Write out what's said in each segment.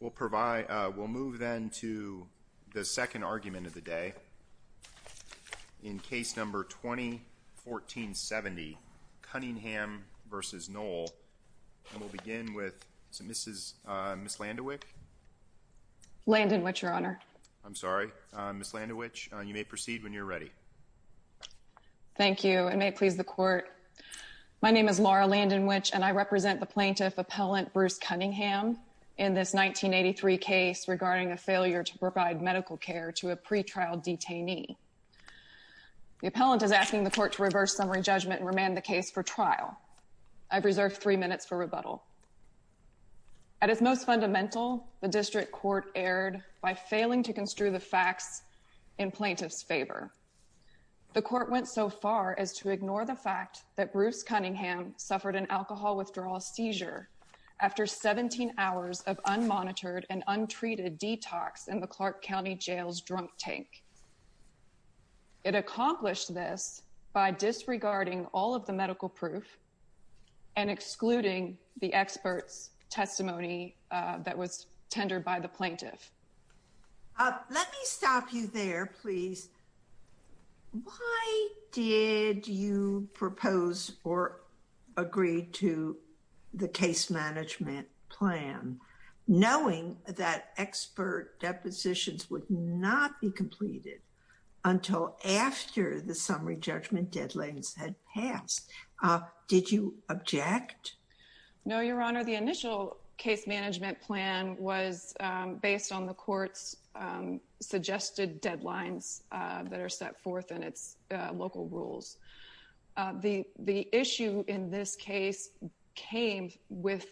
We'll move then to the second argument of the day in case number 2014-70, Cunningham v. Noel, and we'll begin with Ms. Landewich. Landewich, Your Honor. I'm sorry. Ms. Landewich, you may proceed when you're ready. Thank you, and may it please the Court. My name is Laura Landewich, and I represent the plaintiff, Appellant Bruce Cunningham, in this 1983 case regarding a failure to provide medical care to a pretrial detainee. The appellant is asking the Court to reverse summary judgment and remand the case for trial. At its most fundamental, the District Court erred by failing to construe the facts in plaintiff's favor. The Court went so far as to ignore the fact that Bruce Cunningham suffered an alcohol withdrawal seizure after 17 hours of unmonitored and untreated detox in the Clark County Jail's drunk tank. It accomplished this by disregarding all of the medical proof and excluding the expert's testimony that was tendered by the plaintiff. Let me stop you there, please. Why did you propose or agree to the case management plan, knowing that expert depositions would not be completed until after the summary judgment deadlines had passed? Did you object? No, Your Honor. The initial case management plan was based on the Court's suggested deadlines that are set forth in its local rules. The issue in this case came with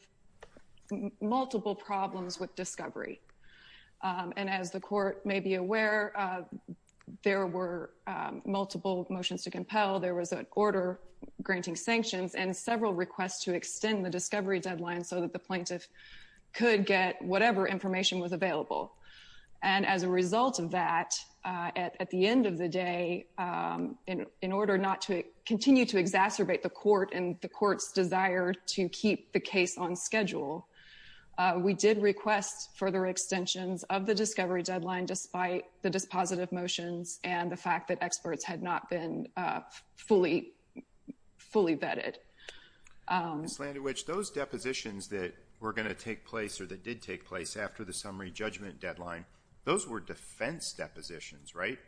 multiple problems with discovery. As the Court may be aware, there were multiple motions to compel. There was an order granting sanctions and several requests to extend the discovery deadline so that the plaintiff could get whatever information was available. As a result of that, at the end of the day, in order not to continue to exacerbate the Court and the Court's desire to keep the case on schedule, we did request further extensions of the discovery deadline despite the dispositive motions and the fact that experts had not been fully vetted. Ms. Landewich, those depositions that were going to take place or that did take place after the summary judgment deadline, those were defense depositions, right?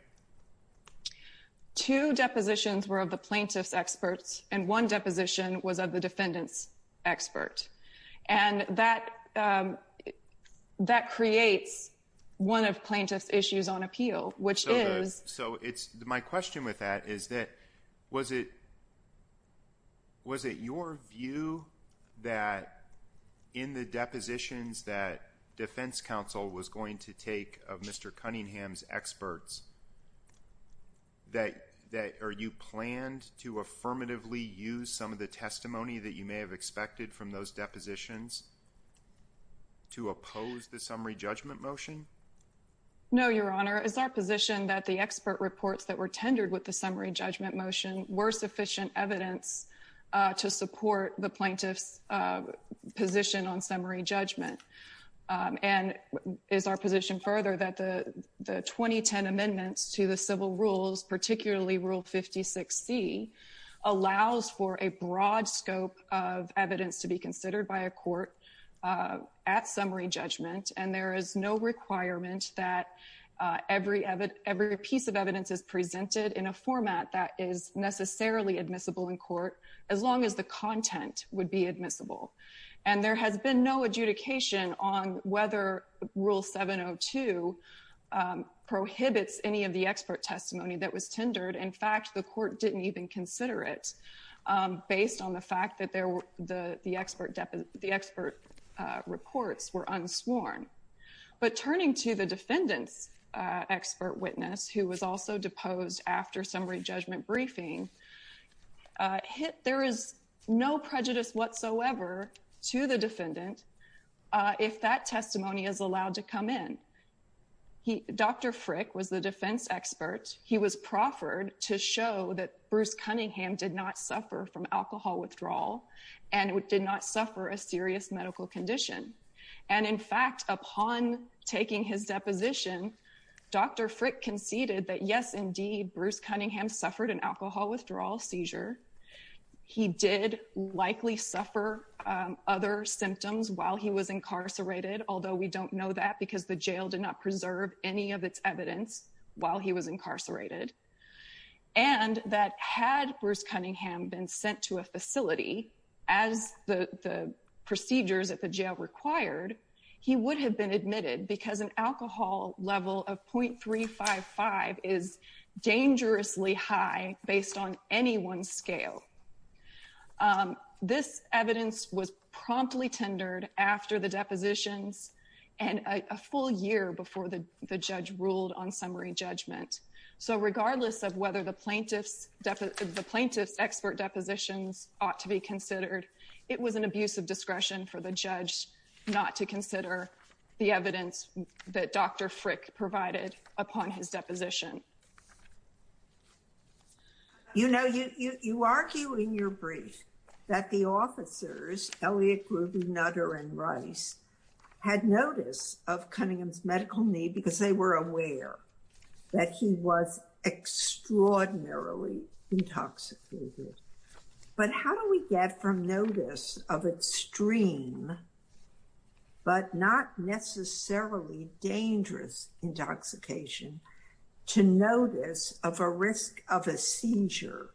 Two depositions were of the plaintiff's experts and one deposition was of the defendant's expert. And that creates one of plaintiff's issues on appeal, which is— So my question with that is that was it your view that in the depositions that defense counsel was going to take of Mr. Cunningham's experts, that are you planned to affirmatively use some of the testimony that you may have expected from those depositions to oppose the summary judgment motion? No, Your Honor. It's our position that the expert reports that were tendered with the summary judgment motion were sufficient evidence to support the plaintiff's position on summary judgment. And it's our position further that the 2010 amendments to the civil rules, particularly Rule 56C, allows for a broad scope of evidence to be considered by a court at summary judgment. And there is no requirement that every piece of evidence is presented in a format that is necessarily admissible in court as long as the content would be admissible. And there has been no adjudication on whether Rule 702 prohibits any of the expert testimony that was tendered. In fact, the court didn't even consider it based on the fact that the expert reports were unsworn. But turning to the defendant's expert witness, who was also deposed after summary judgment briefing, there is no prejudice whatsoever to the defendant if that testimony is allowed to come in. Dr. Frick was the defense expert. He was proffered to show that Bruce Cunningham did not suffer from alcohol withdrawal and did not suffer a serious medical condition. And in fact, upon taking his deposition, Dr. Frick conceded that, yes, indeed, Bruce Cunningham suffered an alcohol withdrawal seizure. He did likely suffer other symptoms while he was incarcerated, although we don't know that because the jail did not preserve any of its evidence while he was incarcerated. And that had Bruce Cunningham been sent to a facility as the procedures at the jail required, he would have been admitted because an alcohol level of 0.355 is dangerously high based on anyone's scale. This evidence was promptly tendered after the depositions and a full year before the judge ruled on summary judgment. So regardless of whether the plaintiff's expert depositions ought to be considered, it was an abuse of discretion for the judge not to consider the evidence that Dr. Frick provided upon his deposition. You know, you argue in your brief that the officers, Elliot, Ruby, Nutter and Rice had notice of Cunningham's medical need because they were aware that he was extraordinarily intoxicated. But how do we get from notice of extreme but not necessarily dangerous intoxication to notice of a risk of a seizure,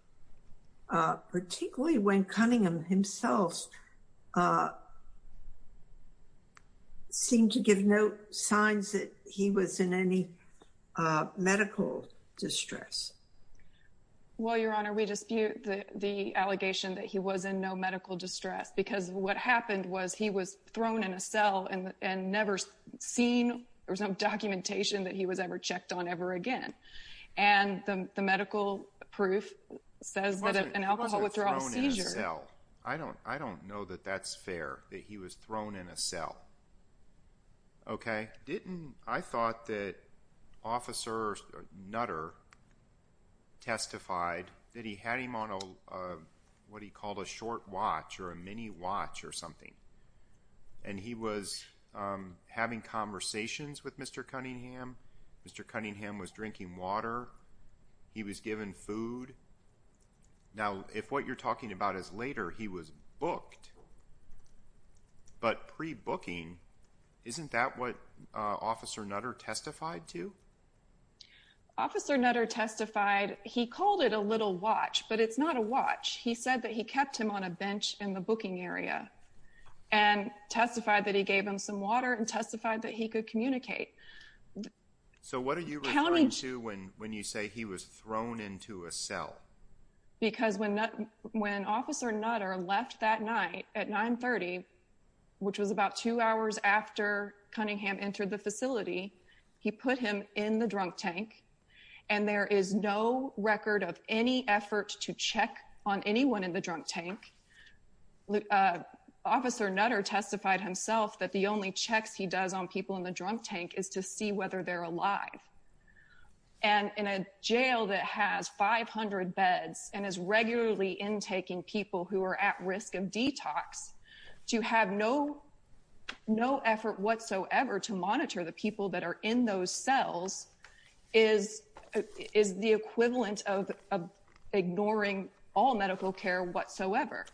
particularly when Cunningham himself seemed to give no signs that he was in any medical distress? Well, Your Honor, we dispute the allegation that he was in no medical distress because what happened was he was thrown in a cell and never seen. There was no documentation that he was ever checked on ever again. And the medical proof says that an alcohol withdrawal seizure. I don't I don't know that that's fair that he was thrown in a cell. OK, didn't I thought that officers Nutter testified that he had him on a what he called a short watch or a mini watch or something. And he was having conversations with Mr. Cunningham. Mr. Cunningham was drinking water. He was given food. Now, if what you're talking about is later, he was booked. But pre booking, isn't that what Officer Nutter testified to? Officer Nutter testified he called it a little watch, but it's not a watch. He said that he kept him on a bench in the booking area and testified that he gave him some water and testified that he could communicate. So what are you counting to when when you say he was thrown into a cell? Because when when Officer Nutter left that night at 930, which was about two hours after Cunningham entered the facility, he put him in the drunk tank. And there is no record of any effort to check on anyone in the drunk tank. Officer Nutter testified himself that the only checks he does on people in the drunk tank is to see whether they're alive. And in a jail that has 500 beds and is regularly intaking people who are at risk of detox to have no no effort whatsoever to monitor the people that are in those cells is is the equivalent of ignoring all medical care whatsoever.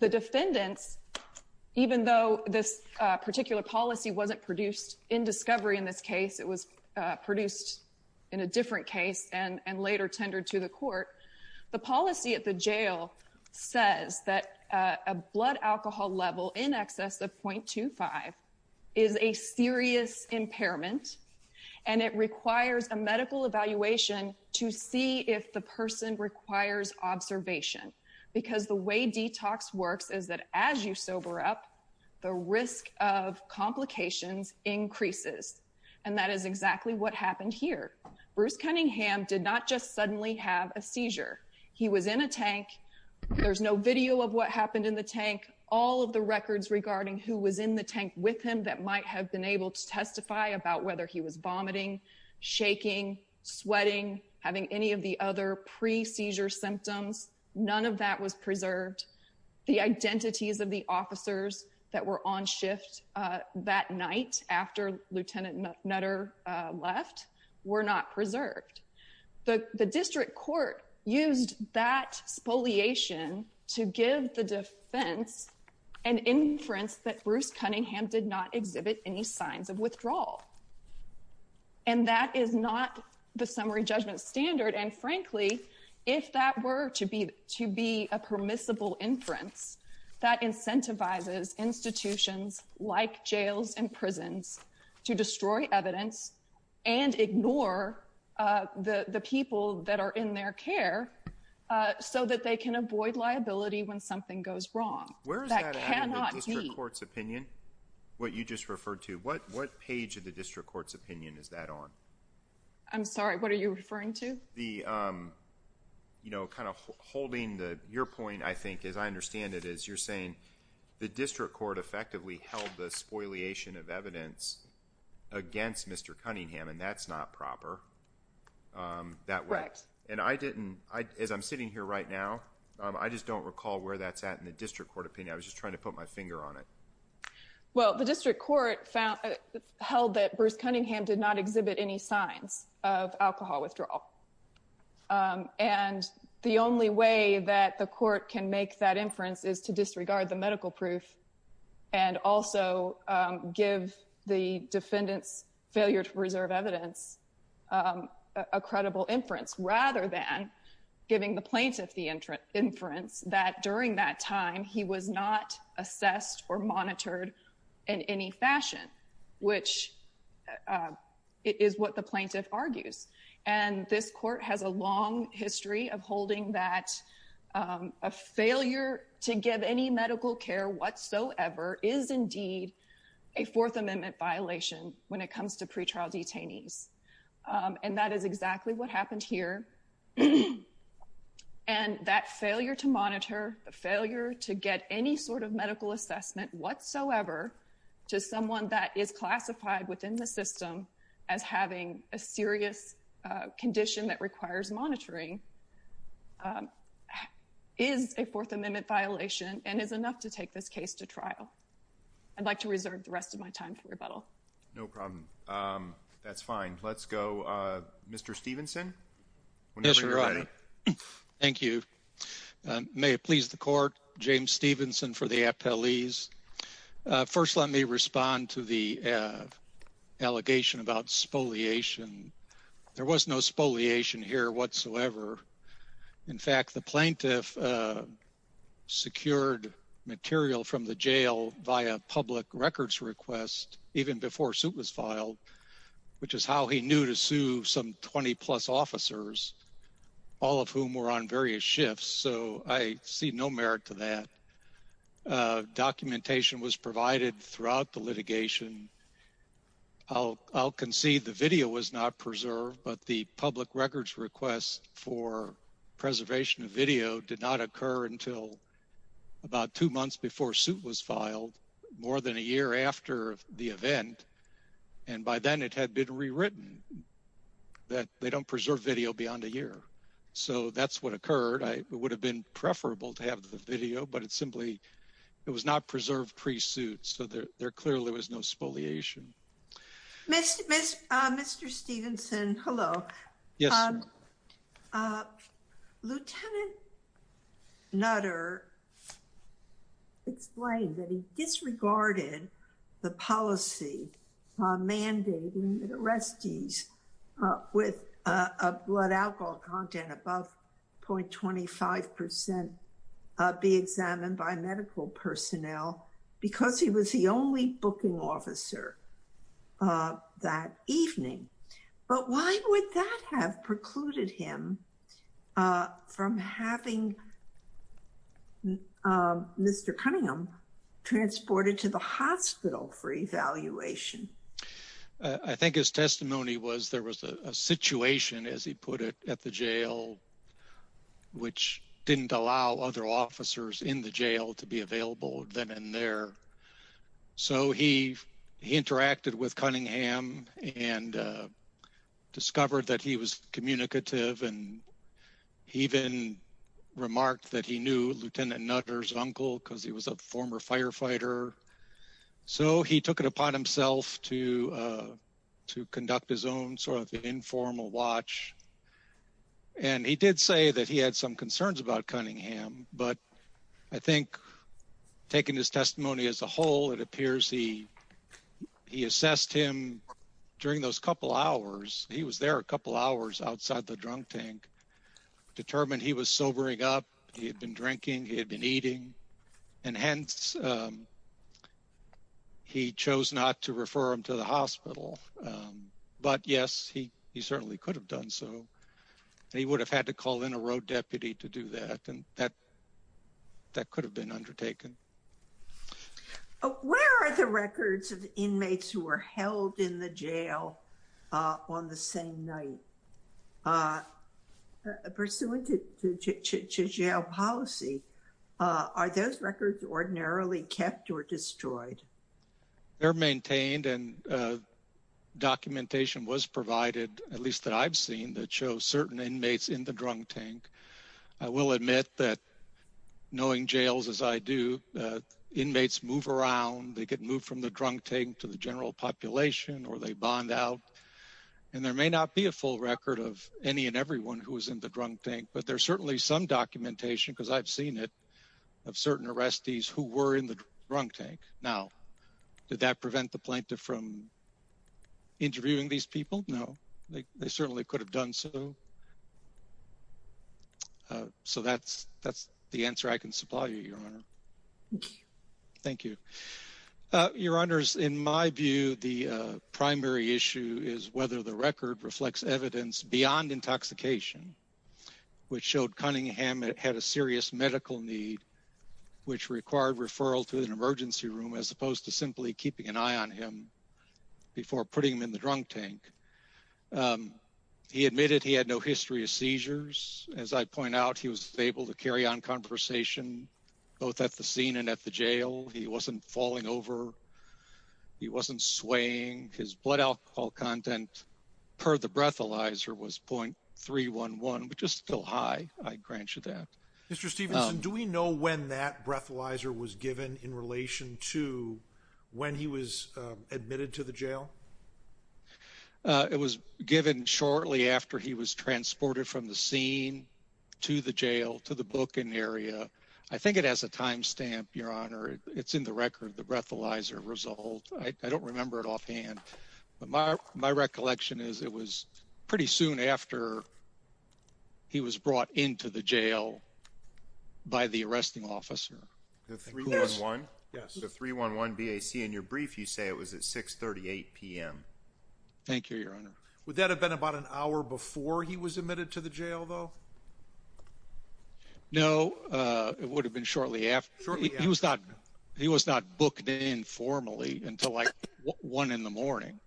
The defendants, even though this particular policy wasn't produced in discovery in this case, it was produced in a different case and and later tendered to the court. The policy at the jail says that a blood alcohol level in excess of 0.25 is a serious impairment and it requires a medical evaluation to see if the person requires observation. Because the way detox works is that as you sober up, the risk of complications increases. And that is exactly what happened here. Bruce Cunningham did not just suddenly have a seizure. He was in a tank. There's no video of what happened in the tank. All of the records regarding who was in the tank with him that might have been able to testify about whether he was vomiting, shaking, sweating, having any of the other pre seizure symptoms. None of that was preserved. The identities of the officers that were on shift that night after Lieutenant Nutter left were not preserved. The district court used that spoliation to give the defense and inference that Bruce Cunningham did not exhibit any signs of withdrawal. And that is not the summary judgment standard. And frankly, if that were to be to be a permissible inference that incentivizes institutions like jails and prisons to destroy evidence and ignore the people that are in their care so that they can avoid liability when something goes wrong. Where is that in the district court's opinion? What you just referred to? What what page of the district court's opinion is that on? I'm sorry. What are you referring to? The, you know, kind of holding the your point, I think, as I understand it, is you're saying the district court effectively held the spoliation of evidence against Mr. Cunningham. And that's not proper that way. And I didn't. As I'm sitting here right now, I just don't recall where that's at in the district court opinion. I was just trying to put my finger on it. Well, the district court held that Bruce Cunningham did not exhibit any signs of alcohol withdrawal, and the only way that the court can make that inference is to disregard the medical proof and also give the defendant's failure to preserve evidence a credible inference, rather than giving the plaintiff the inference that during that time he was not assessed or monitored in any fashion, which is what the plaintiff argues. And this court has a long history of holding that a failure to give any medical care whatsoever is indeed a Fourth Amendment violation when it comes to pretrial detainees. And that is exactly what happened here. And that failure to monitor, the failure to get any sort of medical assessment whatsoever to someone that is classified within the system as having a serious condition that requires monitoring is a Fourth Amendment violation and is enough to take this case to trial. I'd like to reserve the rest of my time for rebuttal. No problem. That's fine. Let's go. Mr. Stephenson. Yes, Your Honor. Thank you. May it please the court. James Stephenson for the appellees. First, let me respond to the allegation about spoliation. There was no spoliation here whatsoever. In fact, the plaintiff secured material from the jail via public records request even before suit was filed, which is how he knew to sue some 20 plus officers, all of whom were on various shifts. So I see no merit to that. Documentation was provided throughout the litigation. I'll concede the video was not preserved, but the public records request for preservation of video did not occur until about two months before suit was filed, more than a year after the event. And by then it had been rewritten that they don't preserve video beyond a year. So that's what occurred. I would have been preferable to have the video, but it's simply it was not preserved pre-suit. So there clearly was no spoliation. Mr. Stephenson, hello. Lieutenant Nutter explained that he disregarded the policy mandating that arrestees with a blood alcohol content above 0.25% be examined by medical personnel because he was the only booking officer. That evening. But why would that have precluded him from having Mr. Cunningham transported to the hospital for evaluation? I think his testimony was there was a situation, as he put it, at the jail, which didn't allow other officers in the jail to be available then and there. So he interacted with Cunningham and discovered that he was communicative and he even remarked that he knew Lieutenant Nutter's uncle because he was a former firefighter. So he took it upon himself to to conduct his own sort of informal watch. And he did say that he had some concerns about Cunningham. But I think taking his testimony as a whole, it appears he he assessed him during those couple hours. He was there a couple hours outside the drunk tank, determined he was sobering up. He had been drinking. He had been eating. And hence, he chose not to refer him to the hospital. But yes, he he certainly could have done so. He would have had to call in a road deputy to do that. And that that could have been undertaken. Where are the records of inmates who were held in the jail on the same night? Pursuant to jail policy, are those records ordinarily kept or destroyed? They're maintained and documentation was provided, at least that I've seen, that shows certain inmates in the drunk tank. I will admit that knowing jails as I do, inmates move around. They get moved from the drunk tank to the general population or they bond out. And there may not be a full record of any and everyone who was in the drunk tank, but there's certainly some documentation, because I've seen it, of certain arrestees who were in the drunk tank. Now, did that prevent the plaintiff from interviewing these people? No, they certainly could have done so. So that's that's the answer I can supply you, Your Honor. Thank you, Your Honors. In my view, the primary issue is whether the record reflects evidence beyond intoxication, which showed Cunningham had a serious medical need, which required referral to an emergency room as opposed to simply keeping an eye on him before putting him in the drunk tank. He admitted he had no history of seizures. As I point out, he was able to carry on conversation both at the scene and at the jail. He wasn't falling over. He wasn't swaying. His blood alcohol content per the breathalyzer was .311, which is still high. I grant you that. Mr. Stephenson, do we know when that breathalyzer was given in relation to when he was admitted to the jail? It was given shortly after he was transported from the scene to the jail, to the booking area. I think it has a timestamp, Your Honor. It's in the record, the breathalyzer result. I don't remember it offhand, but my recollection is it was pretty soon after he was brought into the jail by the arresting officer. The 311? Yes. The 311 BAC. In your brief, you say it was at 6.38 p.m. Thank you, Your Honor. Would that have been about an hour before he was admitted to the jail, though? No, it would have been shortly after. He was not booked in formally until like 1 in the morning,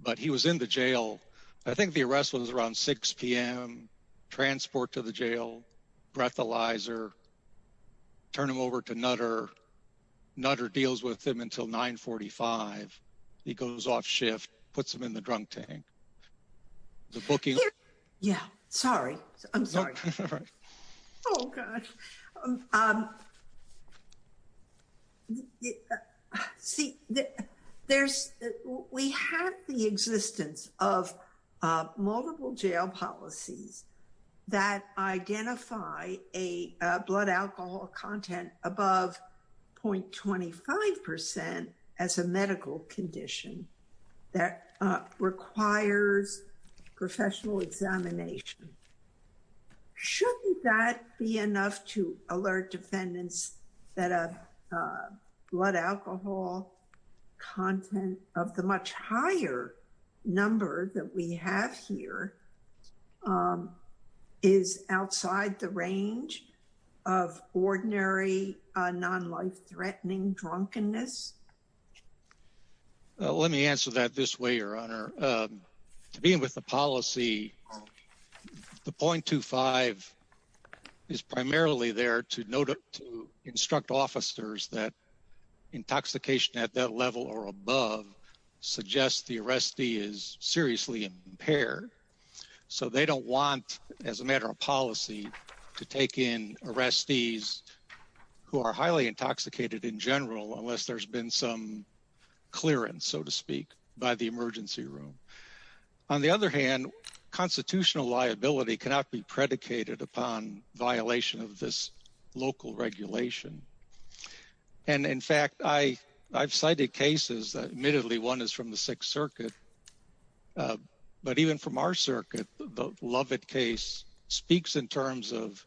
but he was in the jail. I think the arrest was around 6 p.m., transport to the jail, breathalyzer, turn him over to Nutter. Nutter deals with him until 9.45. He goes off shift, puts him in the drunk tank. The booking? Yeah, sorry. I'm sorry. Oh, God. See, we have the existence of multiple jail policies that identify a blood alcohol content above 0.25% as a medical condition that requires professional examination. Shouldn't that be enough to alert defendants that a blood alcohol content of the much higher number that we have here is outside the range of ordinary non-life-threatening drunkenness? Let me answer that this way, Your Honor. To begin with the policy, the 0.25 is primarily there to instruct officers that intoxication at that level or above suggests the arrestee is seriously impaired. So they don't want, as a matter of policy, to take in arrestees who are highly intoxicated in general unless there's been some clearance, so to speak, by the emergency room. On the other hand, constitutional liability cannot be predicated upon violation of this local regulation. And in fact, I've cited cases that admittedly one is from the Sixth Circuit, but even from our circuit, the Lovett case speaks in terms of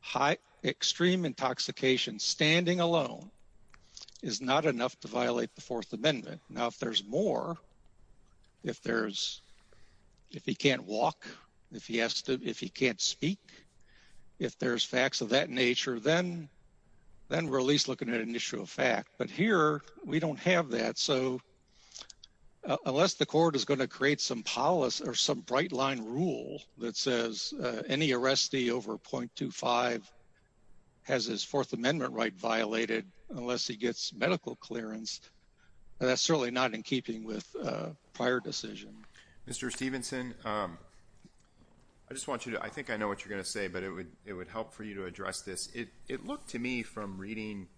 high extreme intoxication standing alone is not enough to violate the Fourth Amendment. Now, if there's more, if he can't walk, if he can't speak, if there's facts of that nature, then we're at least looking at an issue of fact. But here we don't have that. So unless the court is going to create some policy or some bright line rule that says any arrestee over 0.25 has his Fourth Amendment right violated unless he gets medical clearance, that's certainly not in keeping with prior decision. Mr. Stephenson, I just want you to, I think I know what you're going to say, but it would help for you to address this. It looked to me from reading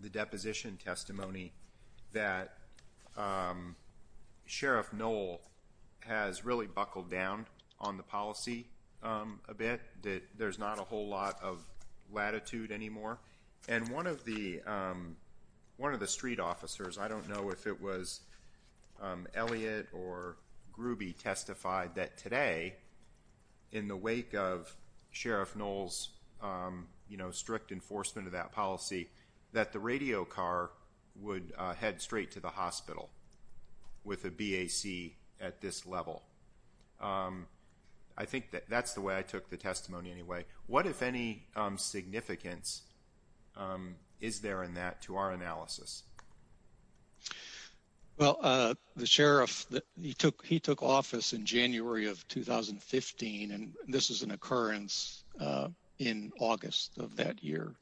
the deposition testimony that Sheriff Knoll has really buckled down on the policy a bit, that there's not a whole lot of latitude anymore. And one of the street officers, I don't know if it was Elliott or Gruby, testified that today, in the wake of Sheriff Knoll's strict enforcement of that policy, that the radio car would head straight to the hospital with a BAC at this level. I think that's the way I took the testimony anyway. What, if any, significance is there in that to our analysis? Well, the sheriff, he took office in January of 2015, and this is an occurrence in August of that year.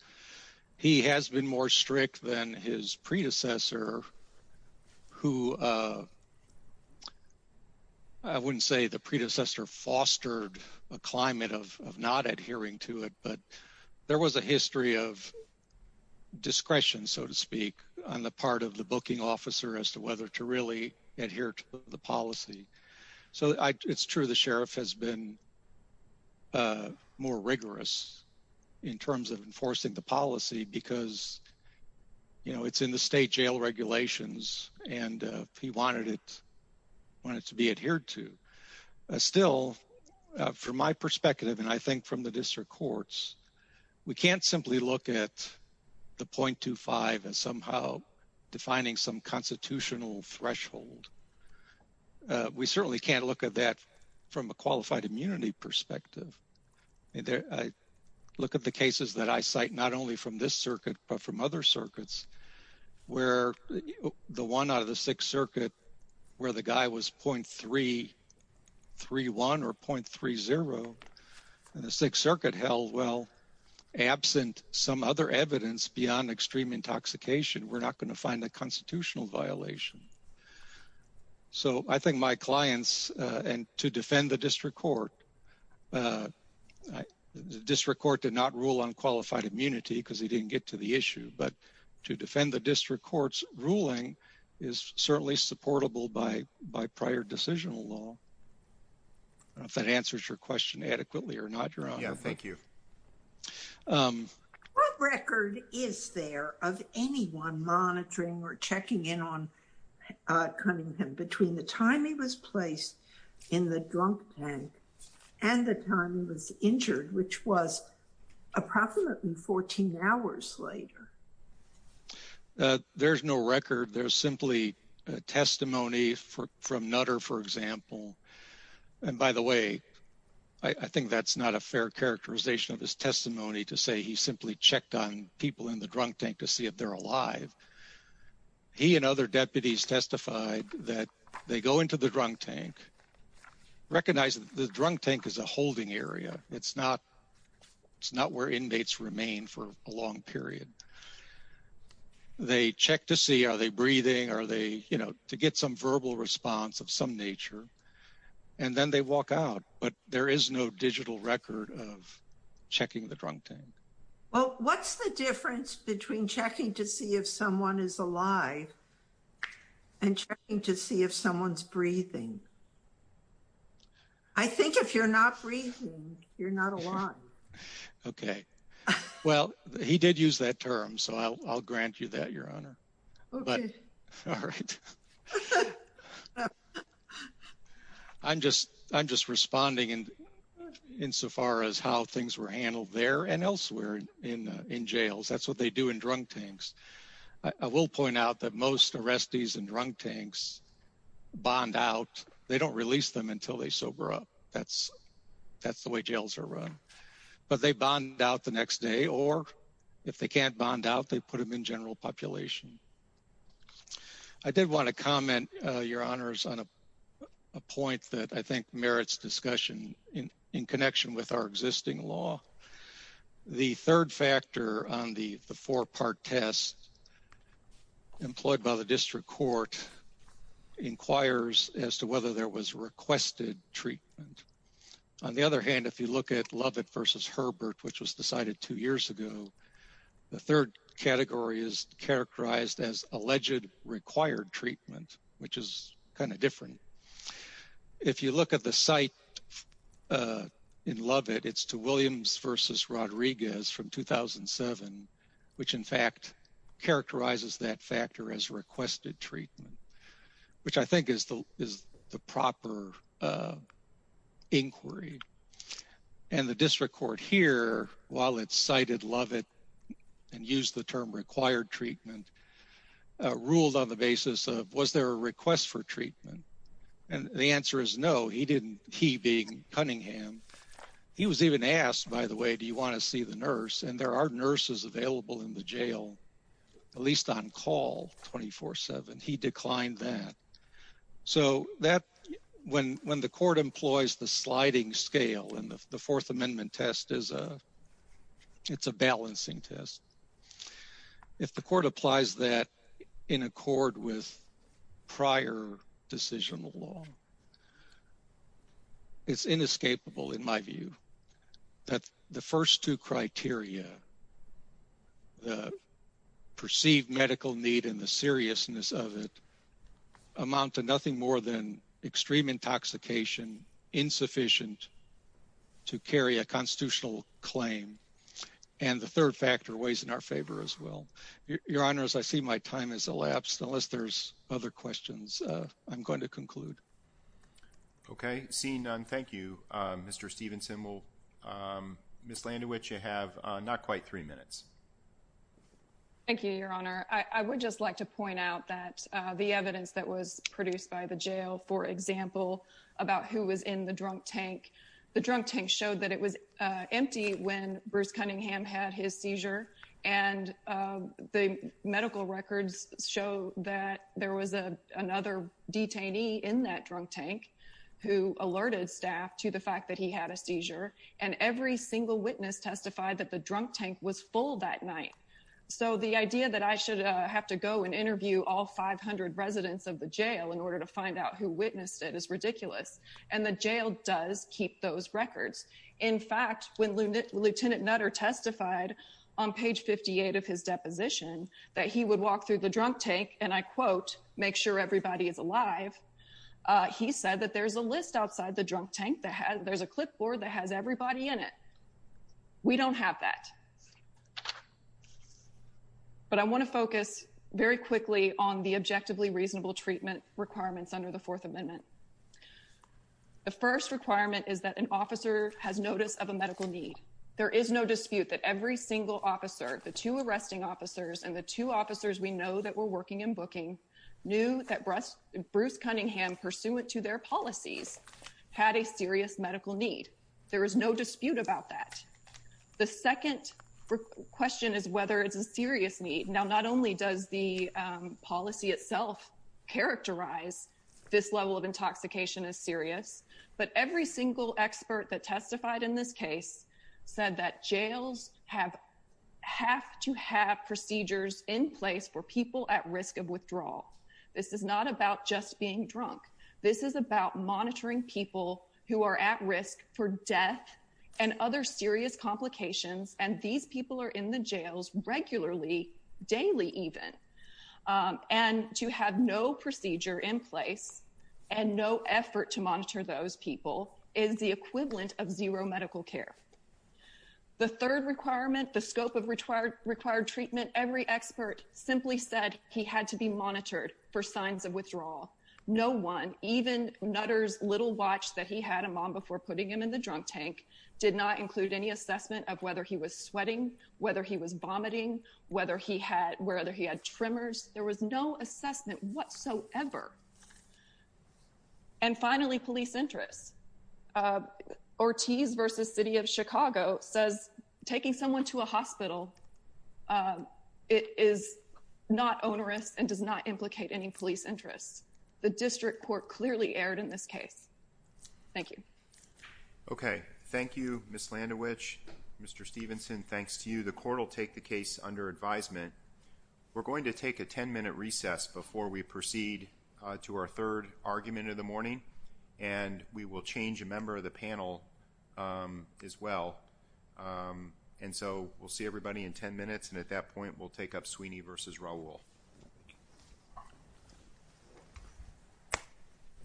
He has been more strict than his predecessor, who, I wouldn't say the predecessor fostered a climate of not adhering to it, but there was a history of discretion, so to speak, on the part of the booking officer as to whether to really adhere to the policy. So it's true the sheriff has been more rigorous in terms of enforcing the policy because it's in the state jail regulations, and he wanted it to be adhered to. Still, from my perspective, and I think from the district courts, we can't simply look at the .25 as somehow defining some constitutional threshold. We certainly can't look at that from a qualified immunity perspective. Look at the cases that I cite, not only from this circuit, but from other circuits, where the one out of the Sixth Circuit, where the guy was .331 or .30, and the Sixth Circuit held, well, absent some other evidence beyond extreme intoxication, we're not going to find a constitutional violation. So I think my clients, and to defend the district court, the district court did not rule on qualified immunity because he didn't get to the issue, but to defend the district court's ruling is certainly supportable by prior decisional law. I don't know if that answers your question adequately or not, Your Honor. Yeah, thank you. What record is there of anyone monitoring or checking in on Cunningham between the time he was placed in the drunk tank and the time he was injured, which was approximately 14 hours later? There's no record. There's simply testimony from Nutter, for example. And by the way, I think that's not a fair characterization of his testimony to say he simply checked on people in the drunk tank to see if they're alive. He and other deputies testified that they go into the drunk tank, recognize that the drunk tank is a holding area. It's not where inmates remain for a long period. They check to see, are they breathing? Are they, you know, to get some verbal response of some nature, and then they walk out. But there is no digital record of checking the drunk tank. Well, what's the difference between checking to see if someone is alive and checking to see if someone's breathing? I think if you're not breathing, you're not alive. Okay. Well, he did use that term, so I'll grant you that, Your Honor. I'm just responding insofar as how things were handled there and elsewhere in jails. That's what they do in drunk tanks. I will point out that most arrestees in drunk tanks bond out. They don't release them until they sober up. That's the way jails are run. But they bond out the next day, or if they can't bond out, they put them in general population. I did want to comment, Your Honors, on a point that I think merits discussion in connection with our existing law. The third factor on the four-part test employed by the district court inquires as to whether there was requested treatment. On the other hand, if you look at Lovett v. Herbert, which was decided two years ago, the third category is characterized as alleged required treatment, which is kind of different. If you look at the cite in Lovett, it's to Williams v. Rodriguez from 2007, which in fact characterizes that factor as requested treatment, which I think is the proper inquiry. And the district court here, while it cited Lovett and used the term required treatment, ruled on the basis of was there a request for treatment? And the answer is no, he didn't. He being Cunningham. He was even asked, by the way, do you want to see the nurse? And there are nurses available in the jail, at least on call 24-7. He declined that. So when the court employs the sliding scale and the Fourth Amendment test, it's a balancing test. If the court applies that in accord with prior decisional law, it's inescapable in my view that the first two criteria, the perceived medical need and the seriousness of it, amount to nothing more than extreme intoxication, insufficient to carry a constitutional claim. And the third factor weighs in our favor as well. Your Honor, as I see my time has elapsed, unless there's other questions, I'm going to conclude. Okay. Seeing none, thank you, Mr. Stevenson. Ms. Landewich, you have not quite three minutes. Thank you, Your Honor. I would just like to point out that the evidence that was produced by the jail, for example, about who was in the drunk tank, the drunk tank showed that it was empty when Bruce Cunningham had his seizure. And the medical records show that there was another detainee in that drunk tank who alerted staff to the fact that he had a seizure. And every single witness testified that the drunk tank was full that night. So the idea that I should have to go and interview all 500 residents of the jail in order to find out who witnessed it is ridiculous. And the jail does keep those records. In fact, when Lieutenant Nutter testified on page 58 of his deposition that he would walk through the drunk tank and, I quote, make sure everybody is alive, he said that there's a list outside the drunk tank that there's a clipboard that has everybody in it. We don't have that. But I want to focus very quickly on the objectively reasonable treatment requirements under the Fourth Amendment. The first requirement is that an officer has notice of a medical need. There is no dispute that every single officer, the two arresting officers and the two officers we know that were working in booking, knew that Bruce Cunningham, pursuant to their policies, had a serious medical need. There is no dispute about that. The second question is whether it's a serious need. Now, not only does the policy itself characterize this level of intoxication as serious, but every single expert that testified in this case said that jails have to have procedures in place for people at risk of withdrawal. This is not about just being drunk. This is about monitoring people who are at risk for death and other serious complications, and these people are in the jails regularly, daily even. And to have no procedure in place and no effort to monitor those people is the equivalent of zero medical care. The third requirement, the scope of required treatment, every expert simply said he had to be monitored for signs of withdrawal. No one, even Nutter's little watch that he had a mom before putting him in the drunk tank, did not include any assessment of whether he was sweating, whether he was vomiting, whether he had tremors. There was no assessment whatsoever. And finally, police interests. Ortiz v. City of Chicago says taking someone to a hospital is not onerous and does not implicate any police interests. The district court clearly erred in this case. Thank you. Okay. Thank you, Ms. Landowich. Mr. Stevenson, thanks to you. The court will take the case under advisement. We're going to take a 10-minute recess before we proceed to our third argument of the morning, and we will change a member of the panel as well. And so we'll see everybody in 10 minutes, and at that point we'll take up Sweeney v. Raul.